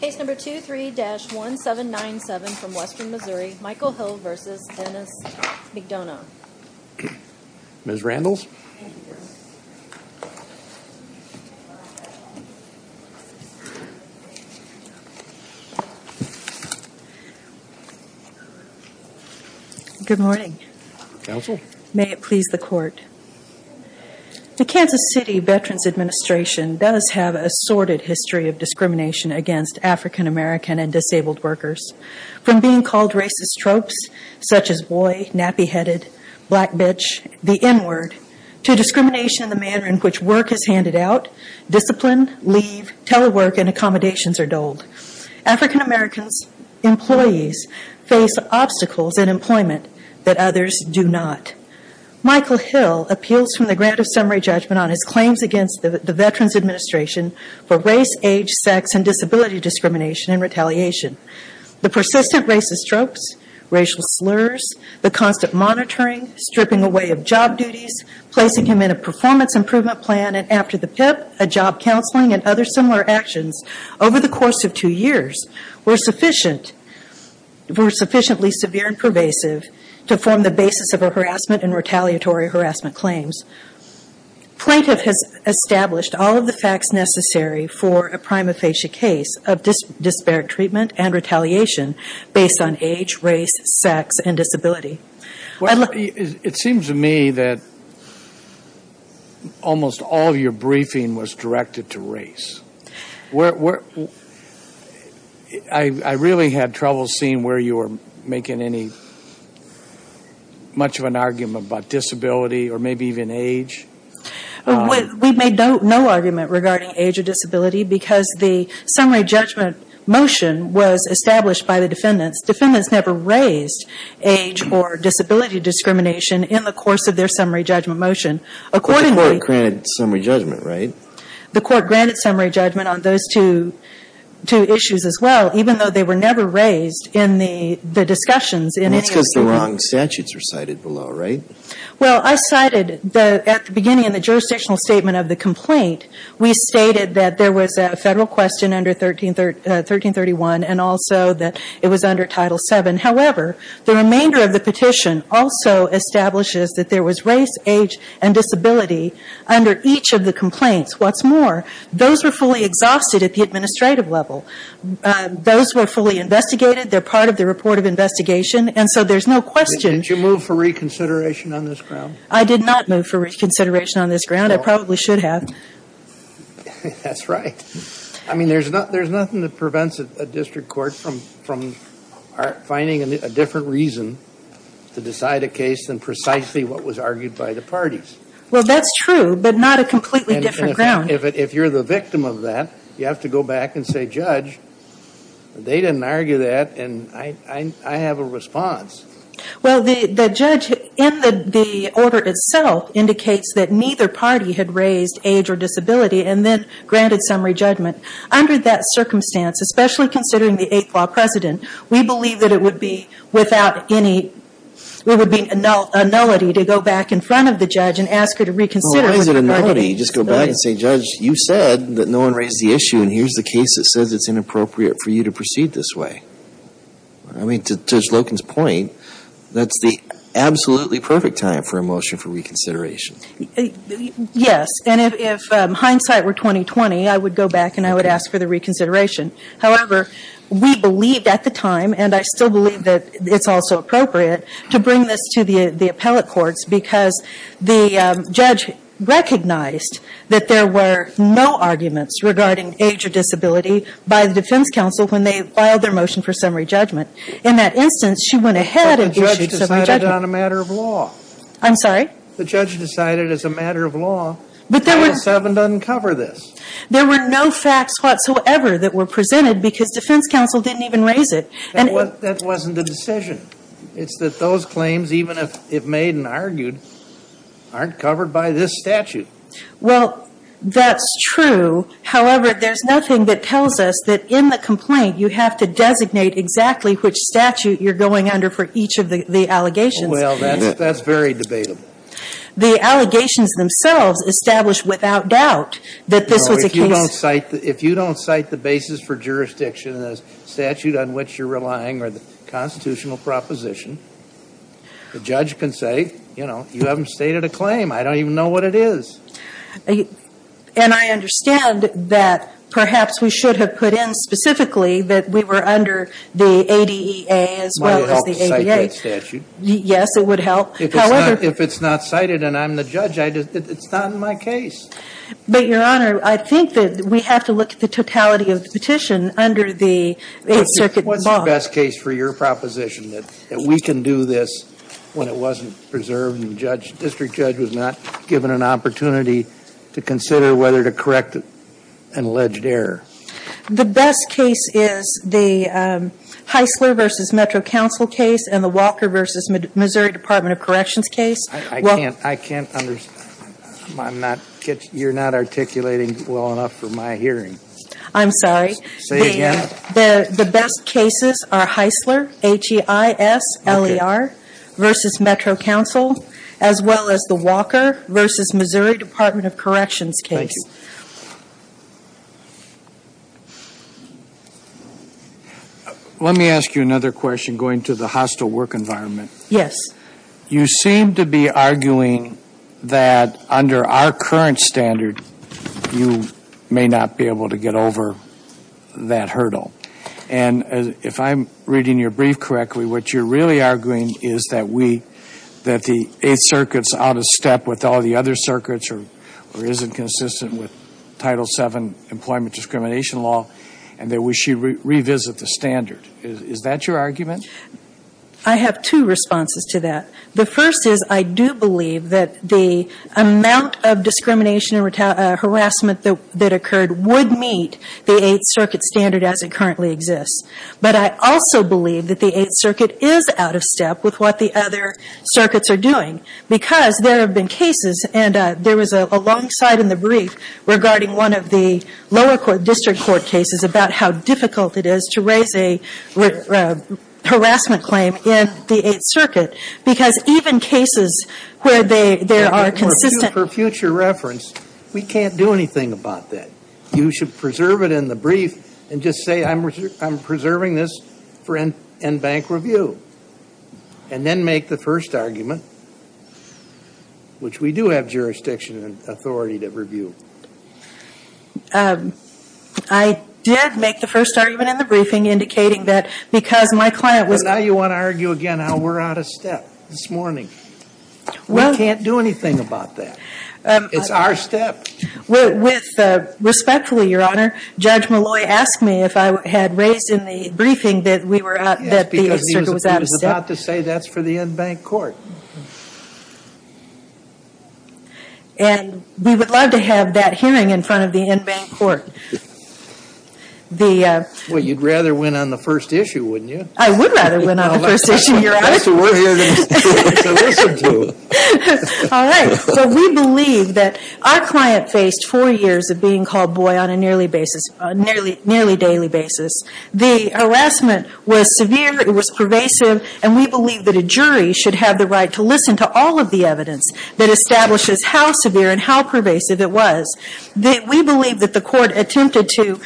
Case number 23-1797 from Western Missouri, Michael Hill v. Denis McDonough. Ms. Randles. Good morning. May it please the court. The Kansas City Veterans Administration does have a sordid history of discrimination against African American and disabled workers. From being called racist tropes, such as boy, nappy headed, black bitch, the N word, to discrimination in the manner in which work is handed out, discipline, leave, telework, and accommodations are doled. African American employees face obstacles in employment that others do not. Michael Hill appeals from the grant of summary judgment on his claims against the Veterans Administration for race, age, sex, and disability discrimination and retaliation. The persistent racist tropes, racial slurs, the constant monitoring, stripping away of job duties, placing him in a performance improvement plan, and after the PIP, a job counseling, and other similar actions over the course of two years were sufficiently severe and pervasive to form the basis of a harassment and retaliatory harassment claims. Plaintiff has established all of the facts necessary for a prima facie case of disparate treatment and retaliation based on age, race, sex, and disability. It seems to me that almost all your briefing was directed to race. I really had trouble seeing where you were making much of an argument about disability or maybe even age. We made no argument regarding age or disability because the summary judgment motion was established by the defendants. Defendants never raised age or disability discrimination in the course of their summary judgment motion. But the court granted summary judgment, right? The court granted summary judgment on those two issues as well, even though they were never raised in the discussions. That's because the wrong statutes are cited below, right? Well, I cited at the beginning in the jurisdictional statement of the complaint, we stated that there was a federal question under 1331 and also that it was under Title VII. However, the remainder of the petition also establishes that there was race, age, and disability under each of the complaints. What's more, those were fully exhausted at the administrative level. Those were fully investigated. They're part of the report of investigation, and so there's no question. Did you move for reconsideration on this ground? I did not move for reconsideration on this ground. I probably should have. That's right. I mean, there's nothing that prevents a district court from finding a different reason to decide a case than precisely what was argued by the parties. That's true, but not a completely different ground. If you're the victim of that, you have to go back and say, Judge, they didn't argue that, and I have a response. Well, the judge in the order itself indicates that neither party had raised age or disability and then granted summary judgment. Under that circumstance, especially considering the Eighth Law precedent, we believe that it would be without any, it would be a nullity to go back in front of the judge and say, Judge, you said that no one raised the issue, and here's the case that says it's inappropriate for you to proceed this way. I mean, to Judge Loken's point, that's the absolutely perfect time for a motion for reconsideration. Yes, and if hindsight were 20-20, I would go back and I would ask for the reconsideration. However, we believed at the time, and I still believe that it's also appropriate to bring this to the appellate courts, because the judge recognized that there were no arguments regarding age or disability by the defense counsel when they filed their motion for summary judgment. In that instance, she went ahead and issued summary judgment. But the judge decided on a matter of law. I'm sorry? The judge decided as a matter of law, Title VII doesn't cover this. There were no facts whatsoever that were presented because defense counsel didn't even raise it. That wasn't the decision. It's that those claims, even if made and argued, aren't covered by this statute. Well, that's true. However, there's nothing that tells us that in the complaint you have to designate exactly which statute you're going under for each of the allegations. Well, that's very debatable. The allegations themselves establish without doubt that this was a case... constitutional proposition. The judge can say, you know, you haven't stated a claim. I don't even know what it is. And I understand that perhaps we should have put in specifically that we were under the ADEA as well as the ADA. It might help to cite that statute. Yes, it would help. However... If it's not cited and I'm the judge, it's not in my case. But, Your Honor, I think that we have to look at the totality of the petition under the Eighth Circuit law. What's the best case for your proposition that we can do this when it wasn't preserved and the district judge was not given an opportunity to consider whether to correct an alleged error? The best case is the Heisler v. Metro Council case and the Walker v. Missouri Department of Corrections case. I can't understand. I'm not... You're not articulating well enough for my hearing. I'm sorry. Say it again. The best cases are Heisler, H-E-I-S-L-E-R, v. Metro Council, as well as the Walker v. Missouri Department of Corrections case. Thank you. Let me ask you another question going to the hostile work environment. Yes. You seem to be arguing that under our current standard, you may not be able to get over that hurdle. And if I'm reading your brief correctly, what you're really arguing is that we... that the Eighth Circuit's out of step with all the other circuits or isn't consistent with Title VII employment discrimination law and that we should revisit the standard. Is that your argument? I have two responses to that. The first is I do believe that the amount of discrimination and harassment that occurred would meet the Eighth Circuit standard as it currently exists. But I also believe that the Eighth Circuit is out of step with what the other circuits are doing because there have been cases, and there was a long side in the brief regarding one of the lower court district court cases about how difficult it is to raise a harassment claim in the Eighth Circuit because even cases where there are consistent... For future reference, we can't do anything about that. You should preserve it in the brief and just say, I'm preserving this for in-bank review and then make the first argument, which we do have jurisdiction and authority to review. I did make the first argument in the briefing indicating that because my client was... But now you want to argue again how we're out of step this morning. We can't do anything about that. It's our step. With respect, Your Honor, Judge Malloy asked me if I had raised in the briefing that we were... Yes, because he was about to say that's for the in-bank court. And we would love to have that hearing in front of the in-bank court. Well, you'd rather win on the first issue, wouldn't you? I would rather win on the first issue, Your Honor. That's what we're here to listen to. All right. So we believe that our client faced four years of being called boy on a nearly daily basis. The harassment was severe. It was pervasive. And we believe that a jury should have the right to listen to all of the evidence that establishes how severe and how pervasive it was. We believe that the court attempted to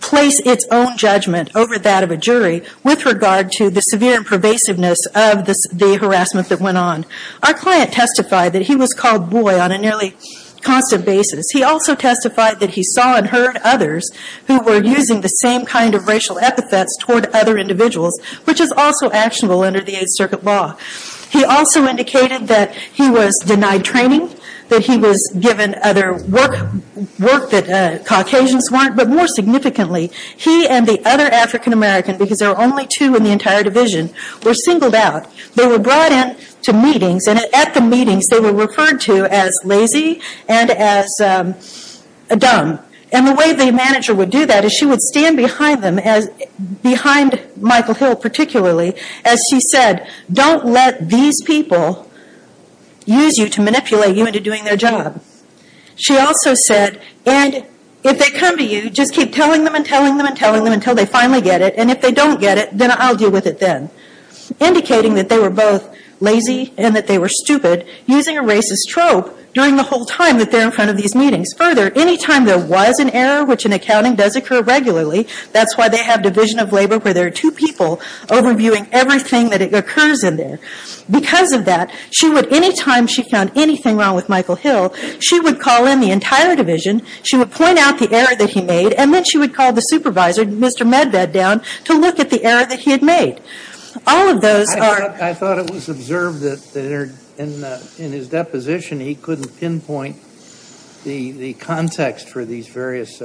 place its own judgment over that of a jury with regard to the severe pervasiveness of the harassment that went on. Our client testified that he was called boy on a nearly constant basis. He also testified that he saw and heard others who were using the same kind of racial epithets toward other individuals, which is also actionable under the Eighth Circuit law. He also indicated that he was denied training, that he was given other work that Caucasians weren't, but more significantly, he and the other African American, because there were only two in the entire division, were singled out. They were brought in to meetings, and at the meetings they were referred to as lazy and as dumb. And the way the manager would do that is she would stand behind them, behind Michael Hill particularly, as she said, don't let these people use you to manipulate you into doing their job. She also said, and if they come to you, just keep telling them and telling them and telling them until they finally get it, and if they don't get it, then I'll deal with it then. Indicating that they were both lazy and that they were stupid, using a racist trope during the whole time that they're in front of these meetings. Further, any time there was an error, which in accounting does occur regularly, that's why they have division of labor where there are two people overviewing everything that occurs in there. Because of that, she would, any time she found anything wrong with Michael Hill, she would call in the entire division, she would point out the error that he made, and then she would call the supervisor, Mr. Medved, down to look at the error that he had made. I thought it was observed that in his deposition he couldn't pinpoint the context for these various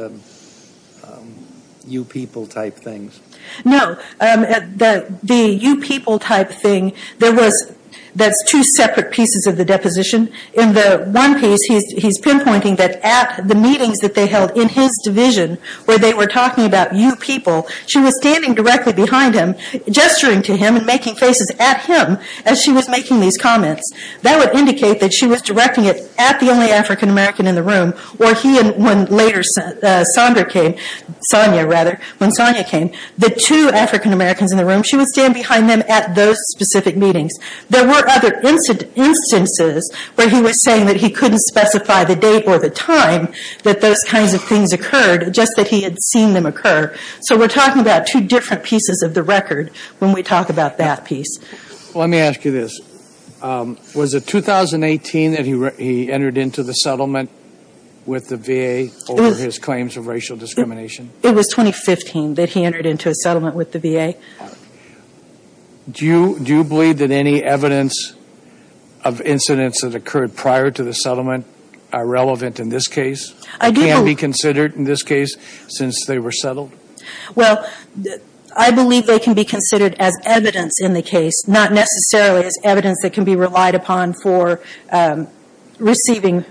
you people type things. No, the you people type thing, there was, that's two separate pieces of the deposition. In the one piece, he's pinpointing that at the meetings that they held in his division where they were talking about you people, she was standing directly behind him, gesturing to him and making faces at him as she was making these comments. That would indicate that she was directing it at the only African American in the room, or he and when later Sondra came, Sonia rather, when Sonia came, the two African Americans in the room, she would stand behind them at those specific meetings. There were other instances where he was saying that he couldn't specify the date or the time that those kinds of things occurred, just that he had seen them occur. So we're talking about two different pieces of the record when we talk about that piece. Let me ask you this. Was it 2018 that he entered into the settlement with the VA over his claims of racial discrimination? It was 2015 that he entered into a settlement with the VA. Do you believe that any evidence of incidents that occurred prior to the settlement are relevant in this case? Can they be considered in this case since they were settled? Well, I believe they can be considered as evidence in the case, not necessarily as evidence that can be relied upon for receiving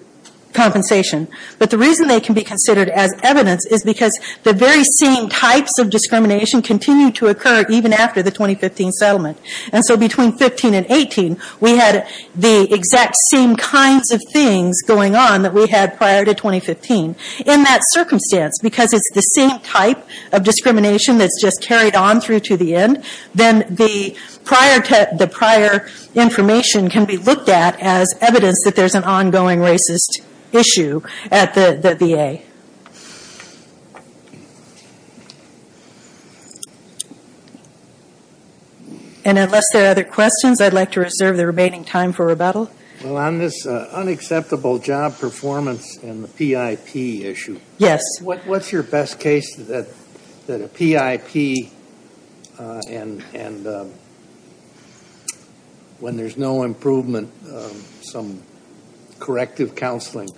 compensation. But the reason they can be considered as evidence is because the very same types of discrimination continue to occur even after the 2015 settlement. And so between 2015 and 2018, we had the exact same kinds of things going on that we had prior to 2015. In that circumstance, because it's the same type of discrimination that's just carried on through to the end, then the prior information can be looked at as evidence that there's an ongoing racist issue at the VA. And unless there are other questions, I'd like to reserve the remaining time for rebuttal. Well, on this unacceptable job performance and the PIP issue. Yes. What's your best case that a PIP and when there's no improvement, some corrective counseling,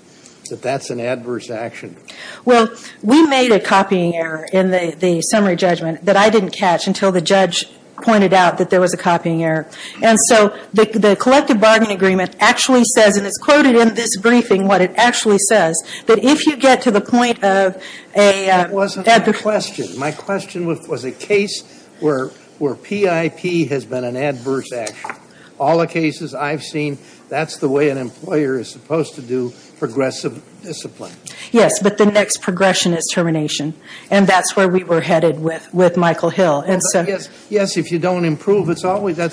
that that's an adverse action? Well, we made a copying error in the summary judgment that I didn't catch until the judge pointed out that there was a copying error. And so the collective bargaining agreement actually says, and it's quoted in this briefing what it actually says, that if you get to the point of a... That wasn't my question. My question was a case where PIP has been an adverse action. All the cases I've seen, that's the way an employer is supposed to do progressive discipline. Yes, but the next progression is termination. And that's where we were headed with Michael Hill. Yes, if you don't improve, that's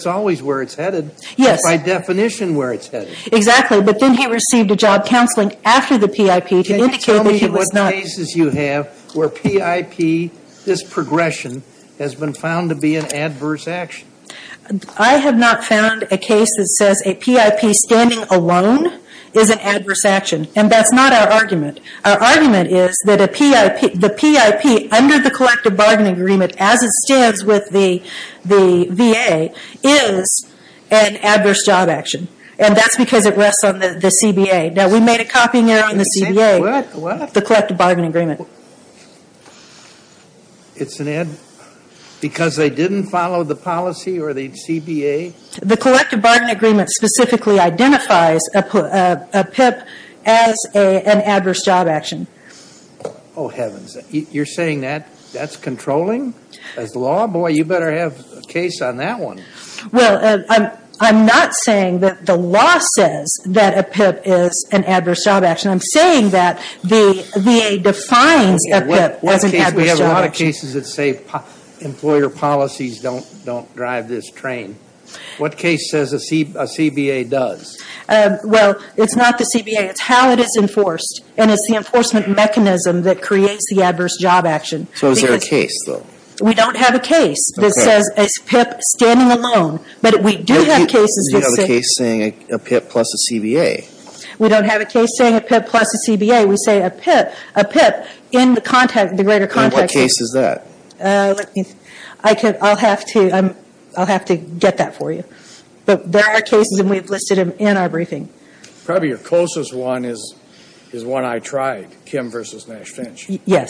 always where it's headed. Yes. By definition, where it's headed. Exactly. But then he received a job counseling after the PIP to indicate that he was not... Can you tell me what cases you have where PIP, this progression, has been found to be an adverse action? I have not found a case that says a PIP standing alone is an adverse action. And that's not our argument. Our argument is that a PIP... The PIP under the collective bargaining agreement as it stands with the VA is an adverse job action. And that's because it rests on the CBA. Now, we made a copying error in the CBA. What? The collective bargaining agreement. It's an ad because they didn't follow the policy or the CBA? The collective bargaining agreement specifically identifies a PIP as an adverse job action. Oh, heavens. You're saying that's controlling as law? Boy, you better have a case on that one. Well, I'm not saying that the law says that a PIP is an adverse job action. I'm saying that the VA defines a PIP as an adverse job action. We have a lot of cases that say employer policies don't drive this train. What case says a CBA does? Well, it's not the CBA. It's how it is enforced. And it's the enforcement mechanism that creates the adverse job action. So is there a case, though? We don't have a case that says a PIP standing alone. But we do have cases that say... You have a case saying a PIP plus a CBA. We don't have a case saying a PIP plus a CBA. We say a PIP in the greater context. Then what case is that? I'll have to get that for you. But there are cases, and we've listed them in our briefing. Probably your closest one is one I tried, Kim v. Nash Finch. Yes.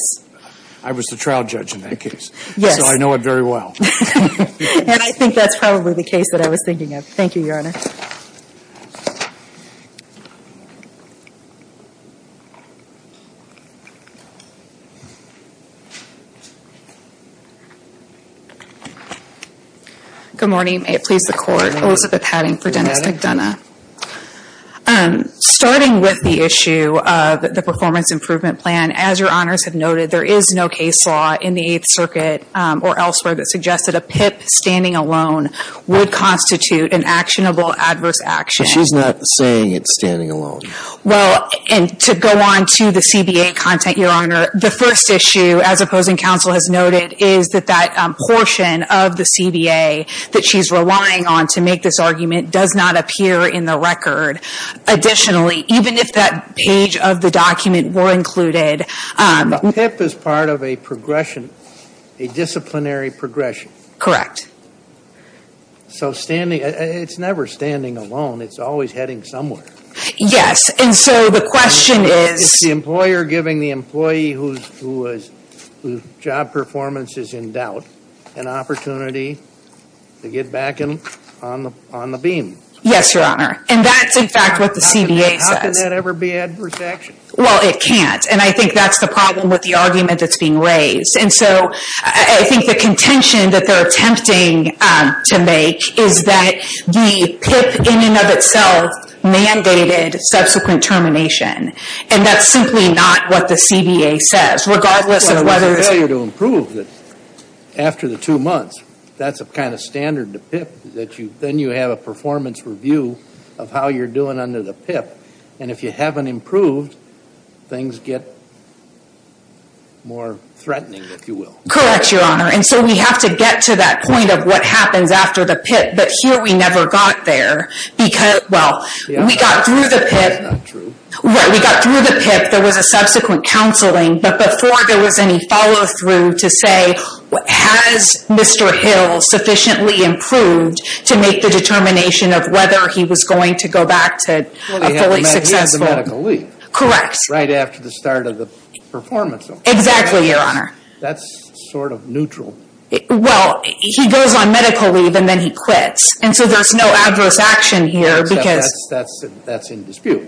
I was the trial judge in that case. Yes. So I know it very well. And I think that's probably the case that I was thinking of. Thank you, Your Honor. Thank you, Your Honor. Good morning. May it please the Court. Elizabeth Padding for Dennis McDonough. Starting with the issue of the performance improvement plan, as Your Honors have noted, there is no case law in the Eighth Circuit or elsewhere that suggests that a PIP standing alone would constitute an actionable adverse action. So she's not saying it's standing alone. Well, and to go on to the CBA content, Your Honor, the first issue as opposing counsel has noted is that that portion of the CBA that she's relying on to make this argument does not appear in the record. Additionally, even if that page of the document were included. A PIP is part of a progression, a disciplinary progression. Correct. So it's never standing alone. It's always heading somewhere. Yes. And so the question is. Is the employer giving the employee whose job performance is in doubt an opportunity to get back on the beam? Yes, Your Honor. And that's, in fact, what the CBA says. How can that ever be adverse action? Well, it can't. And I think that's the problem with the argument that's being raised. And so I think the contention that they're attempting to make is that the PIP in and of itself mandated subsequent termination. And that's simply not what the CBA says, regardless of whether it's... Well, it was a failure to improve after the two months. That's a kind of standard to PIP, that then you have a performance review of how you're doing under the PIP. And if you haven't improved, things get more threatening, if you will. Correct, Your Honor. And so we have to get to that point of what happens after the PIP. But here we never got there because... Well, we got through the PIP. That's not true. We got through the PIP. There was a subsequent counseling. But before there was any follow-through to say, has Mr. Hill sufficiently improved to make the determination of whether he was going to go back to a fully successful... He has a medical leave. Correct. Right after the start of the performance. Exactly, Your Honor. That's sort of neutral. Well, he goes on medical leave and then he quits. And so there's no adverse action here because... That's in dispute.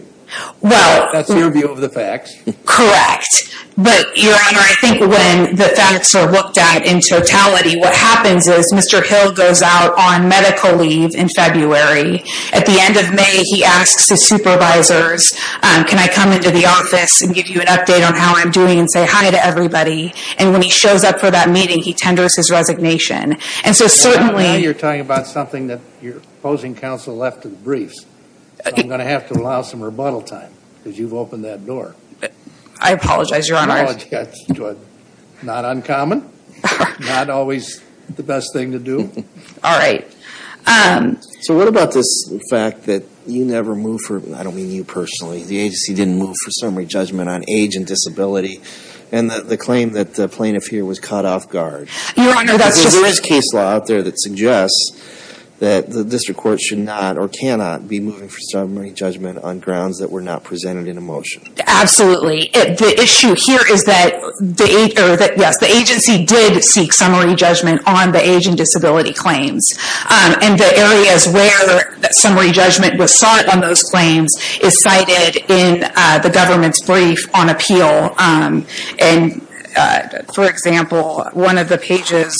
Well... That's your view of the facts. Correct. But, Your Honor, I think when the facts are looked at in totality, what happens is Mr. Hill goes out on medical leave in February. At the end of May, he asks his supervisors, can I come into the office and give you an update on how I'm doing and say hi to everybody. And when he shows up for that meeting, he tenders his resignation. And so certainly... Now you're talking about something that your opposing counsel left to the briefs. So I'm going to have to allow some rebuttal time because you've opened that door. I apologize, Your Honor. Not uncommon. Not always the best thing to do. All right. So what about this fact that you never moved for... I don't mean you personally. The agency didn't move for summary judgment on age and disability and the claim that the plaintiff here was caught off guard. Your Honor, that's just... Because there is case law out there that suggests that the district court should not or cannot be moving for summary judgment on grounds that were not presented in a motion. Absolutely. The issue here is that, yes, the agency did seek summary judgment on the age and disability claims. And the areas where that summary judgment was sought on those claims is cited in the government's brief on appeal. And, for example, one of the pages,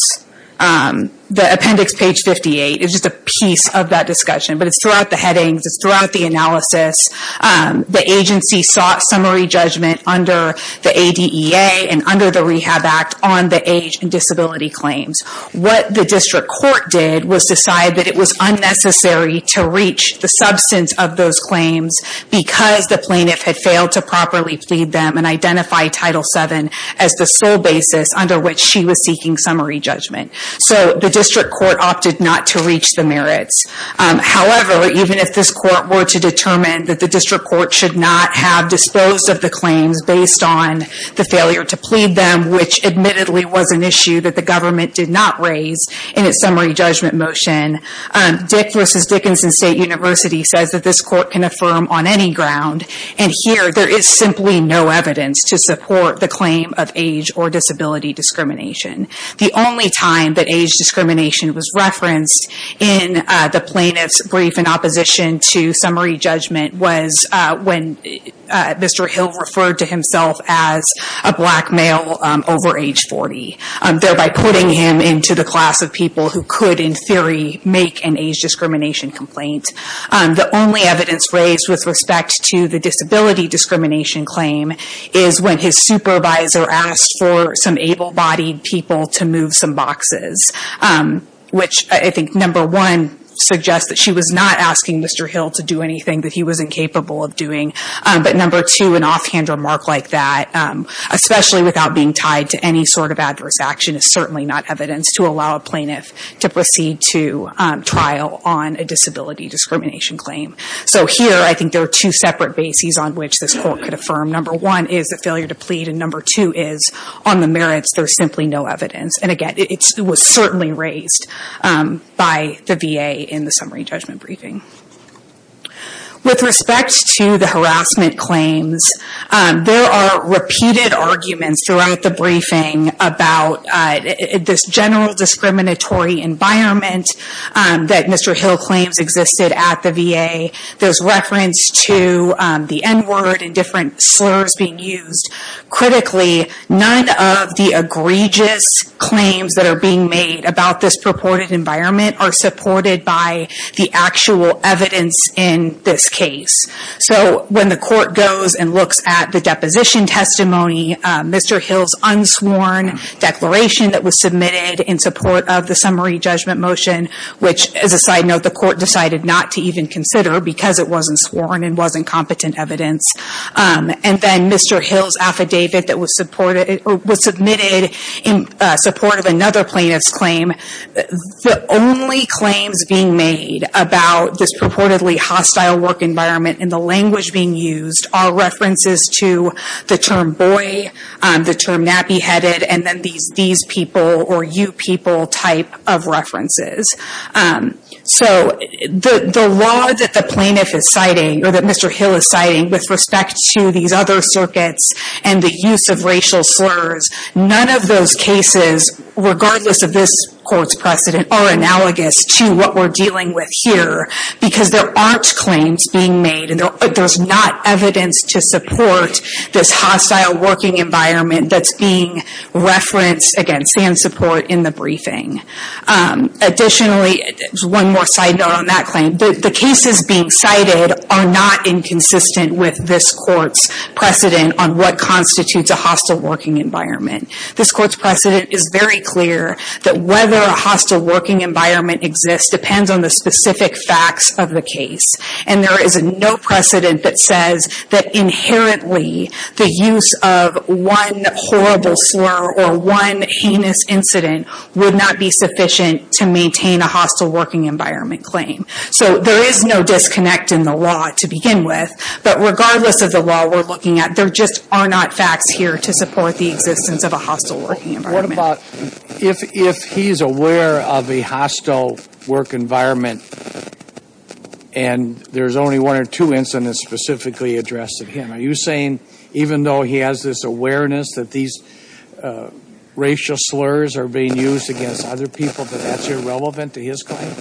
the appendix page 58, is just a piece of that discussion. It's throughout the analysis. The agency sought summary judgment under the ADEA and under the Rehab Act on the age and disability claims. What the district court did was decide that it was unnecessary to reach the substance of those claims because the plaintiff had failed to properly plead them and identify Title VII as the sole basis under which she was seeking summary judgment. So the district court opted not to reach the merits. However, even if this court were to determine that the district court should not have disposed of the claims based on the failure to plead them, which admittedly was an issue that the government did not raise in its summary judgment motion, Dick v. Dickinson State University says that this court can affirm on any ground. And here, there is simply no evidence to support the claim of age or disability discrimination. The only time that age discrimination was referenced in the plaintiff's brief in opposition to summary judgment was when Mr. Hill referred to himself as a black male over age 40, thereby putting him into the class of people who could, in theory, make an age discrimination complaint. The only evidence raised with respect to the disability discrimination claim is when his supervisor asked for some able-bodied people to move some boxes, which I think number one suggests that she was not asking Mr. Hill to do anything that he wasn't capable of doing. But number two, an offhand remark like that, especially without being tied to any sort of adverse action, is certainly not evidence to allow a plaintiff to proceed to trial on a disability discrimination claim. So here, I think there are two separate bases on which this court could affirm. Number one is the failure to plead, and number two is, on the merits, there's simply no evidence. And again, it was certainly raised by the VA in the summary judgment briefing. With respect to the harassment claims, there are repeated arguments throughout the briefing about this general discriminatory environment that Mr. Hill claims existed at the VA. There's reference to the N-word and different slurs being used, but critically, none of the egregious claims that are being made about this purported environment are supported by the actual evidence in this case. So when the court goes and looks at the deposition testimony, Mr. Hill's unsworn declaration that was submitted in support of the summary judgment motion, which, as a side note, the court decided not to even consider because it wasn't sworn and wasn't competent evidence. And then Mr. Hill's affidavit that was submitted in support of another plaintiff's claim. The only claims being made about this purportedly hostile work environment and the language being used are references to the term boy, the term nappy-headed, and then these people or you people type of references. So the law that the plaintiff is citing, or that Mr. Hill is citing with respect to these other circuits and the use of racial slurs, none of those cases, regardless of this court's precedent, are analogous to what we're dealing with here because there aren't claims being made and there's not evidence to support this hostile working environment that's being referenced against and support in the briefing. Additionally, one more side note on that claim, the cases being cited are not inconsistent with this court's precedent on what constitutes a hostile working environment. This court's precedent is very clear that whether a hostile working environment exists depends on the specific facts of the case. And there is no precedent that says that inherently the use of one horrible slur or one heinous incident would not be sufficient to maintain a hostile working environment claim. So there is no disconnect in the law to begin with, but regardless of the law we're looking at, there just are not facts here to support the existence of a hostile working environment. What about if he's aware of a hostile work environment and there's only one or two incidents specifically addressed of him, are you saying even though he has this awareness that these racial slurs are being used against other people, that that's irrelevant to his claim?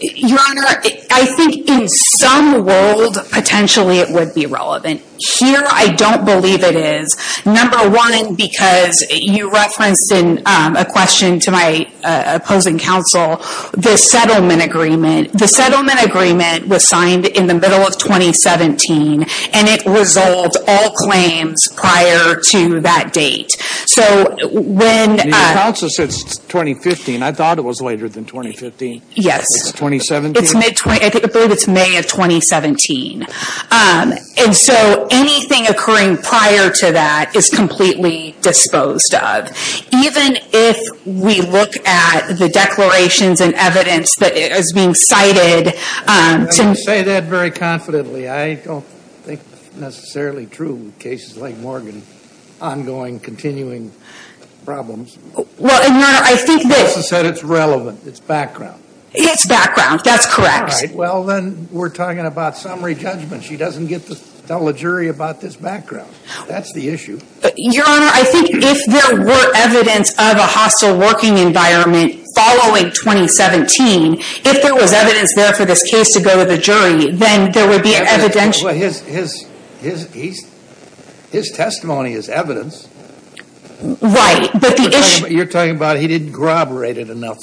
Your Honor, I think in some world potentially it would be relevant. Here, I don't believe it is. Number one, because you referenced in a question to my opposing counsel, the settlement agreement. The settlement agreement was signed in the middle of 2017 and it resolved all claims prior to that date. Your counsel said 2015. I thought it was later than 2015. Yes. It's 2017? I believe it's May of 2017. And so anything occurring prior to that is completely disposed of. Even if we look at the declarations and evidence that is being cited. I would say that very confidently. I don't think it's necessarily true in cases like Morgan, ongoing, continuing problems. Well, Your Honor, I think this... Counsel said it's relevant. It's background. It's background. That's correct. All right. Well, then we're talking about summary judgment. She doesn't get to tell a jury about this background. That's the issue. Your Honor, I think if there were evidence of a hostile working environment following 2017, if there was evidence there for this case to go to the jury, then there would be evidential... Well, his testimony is evidence. Right, but the issue... You're talking about he didn't corroborate it enough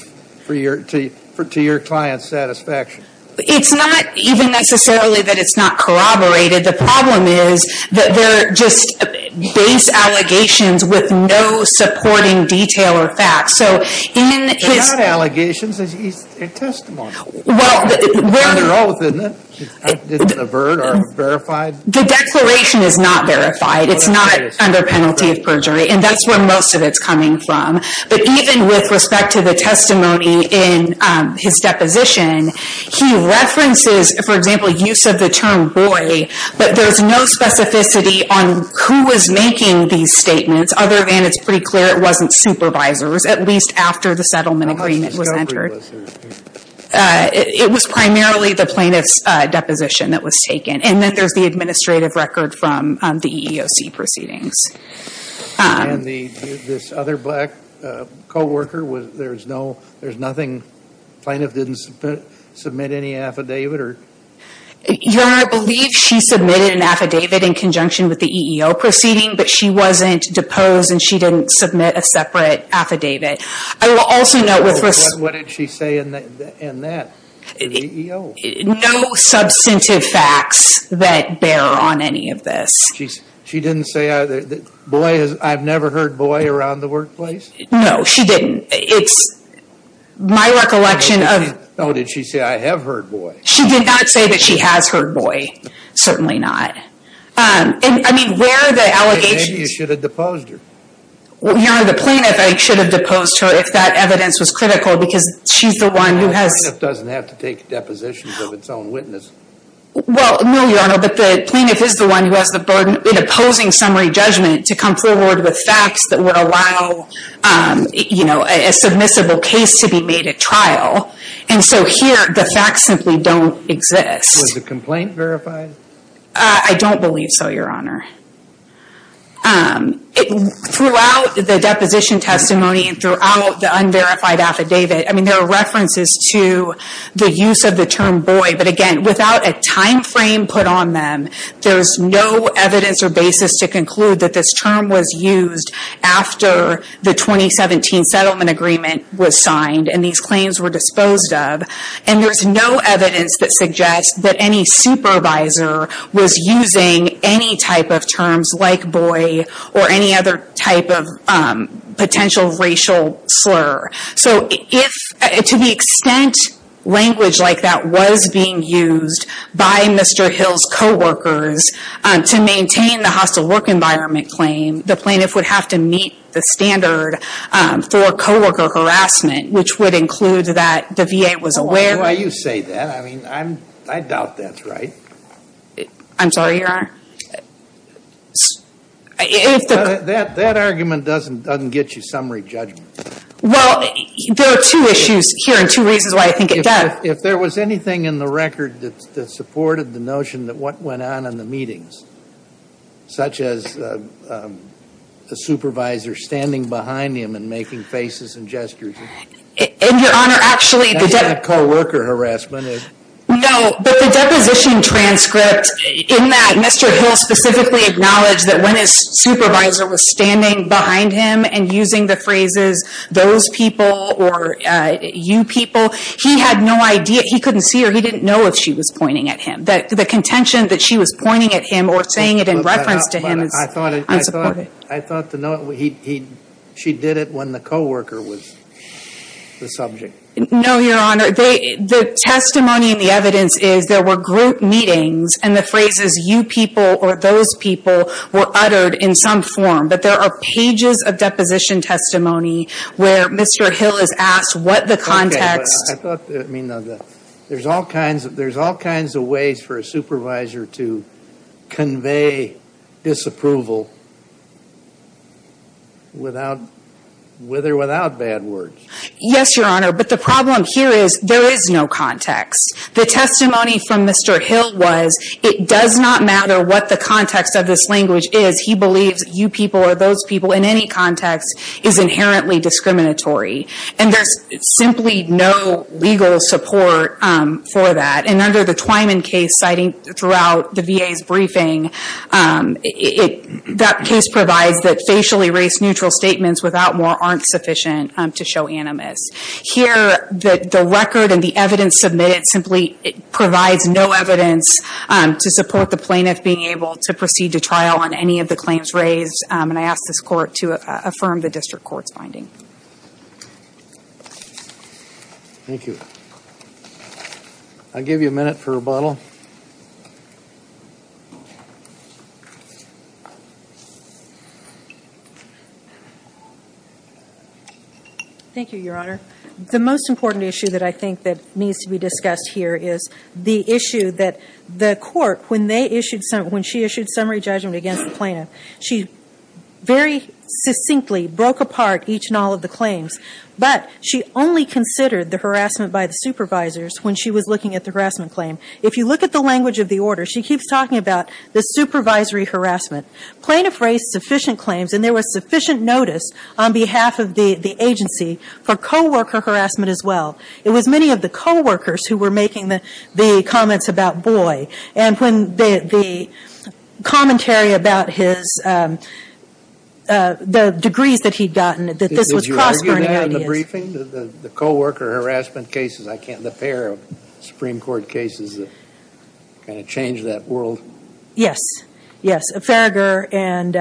to your client's satisfaction. It's not even necessarily that it's not corroborated. The problem is that they're just base allegations with no supporting detail or facts. So in his... They're not allegations. They're testimonies. Well, we're... It's not avert or verified? The declaration is not verified. It's not under penalty of perjury, and that's where most of it's coming from. But even with respect to the testimony in his deposition, he references, for example, use of the term boy, but there's no specificity on who was making these statements. Other than it's pretty clear it wasn't supervisors, at least after the settlement agreement was entered. It was primarily the plaintiff's deposition that was taken, and then there's the administrative record from the EEOC proceedings. And this other black co-worker, there's nothing... Plaintiff didn't submit any affidavit or...? Your Honor, I believe she submitted an affidavit in conjunction with the EEO proceeding, but she wasn't deposed and she didn't submit a separate affidavit. I will also note with respect... What did she say in that, in the EEO? No substantive facts that bear on any of this. She didn't say, I've never heard boy around the workplace? No, she didn't. It's my recollection of... No, did she say, I have heard boy? She did not say that she has heard boy. Certainly not. I mean, where the allegations... Maybe you should have deposed her. Your Honor, the plaintiff, I should have deposed her if that evidence was critical because she's the one who has... The plaintiff doesn't have to take depositions of its own witness. Well, no, Your Honor, but the plaintiff is the one who has the burden in opposing summary judgment to come forward with facts that would allow a submissible case to be made at trial. And so here, the facts simply don't exist. Was the complaint verified? I don't believe so, Your Honor. Throughout the deposition testimony and throughout the unverified affidavit, I mean, there are references to the use of the term boy, but again, without a timeframe put on them, there's no evidence or basis to conclude that this term was used after the 2017 settlement agreement was signed and these claims were disposed of. And there's no evidence that suggests that any supervisor was using any type of terms like boy or any other type of potential racial slur. So to the extent language like that was being used by Mr. Hill's co-workers to maintain the hostile work environment claim, the plaintiff would have to meet the standard for co-worker harassment, which would include that the VA was aware... Why do you say that? I mean, I doubt that's right. I'm sorry, Your Honor. That argument doesn't get you summary judgment. Well, there are two issues here and two reasons why I think it does. If there was anything in the record that supported the notion that what went on in the meetings, such as a supervisor standing behind him and making faces and gestures... And, Your Honor, actually... That co-worker harassment is... No, but the deposition transcript in that Mr. Hill specifically acknowledged that when his supervisor was standing behind him and using the phrases those people or you people, he had no idea. He couldn't see her. He didn't know if she was pointing at him. The contention that she was pointing at him or saying it in reference to him is unsupportive. I thought she did it when the co-worker was the subject. No, Your Honor. The testimony and the evidence is there were group meetings and the phrases you people or those people were uttered in some form. But there are pages of deposition testimony where Mr. Hill is asked what the context... Okay, but I thought... There's all kinds of ways for a supervisor to convey disapproval with or without bad words. Yes, Your Honor, but the problem here is there is no context. The testimony from Mr. Hill was it does not matter what the context of this language is. He believes you people or those people in any context is inherently discriminatory. And there's simply no legal support for that. And under the Twyman case, citing throughout the VA's briefing, that case provides that facially race-neutral statements without more aren't sufficient to show animus. Here, the record and the evidence submitted simply provides no evidence to support the plaintiff being able to proceed to trial on any of the claims raised. And I ask this court to affirm the district court's finding. Thank you. I'll give you a minute for rebuttal. Thank you, Your Honor. The most important issue that I think that needs to be discussed here is the issue that the court, when she issued summary judgment against the plaintiff, she very succinctly broke apart each and all of the claims. But she only considered the harassment by the supervisors when she was looking at the harassment claim. If you look at the language of the order, she keeps talking about the supervisory harassment. Plaintiff raised sufficient claims, and there was sufficient notice on behalf of the agency for co-worker harassment as well. It was many of the co-workers who were making the comments about Boye. And when the commentary about his, the degrees that he'd gotten, that this was cross burning ideas. Did you argue that in the briefing? The co-worker harassment cases, the pair of Supreme Court cases that kind of changed that world? Yes. Yes. Farragher and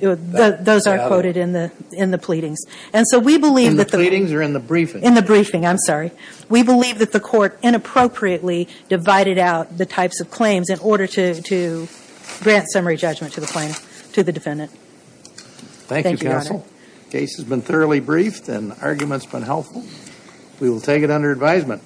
those are quoted in the pleadings. And so we believe that the... In the pleadings or in the briefing? In the briefing. I'm sorry. We believe that the court inappropriately divided out the types of claims in order to grant summary judgment to the plaintiff, to the defendant. Thank you, counsel. The case has been thoroughly briefed and the argument's been helpful. We will take it under advisement.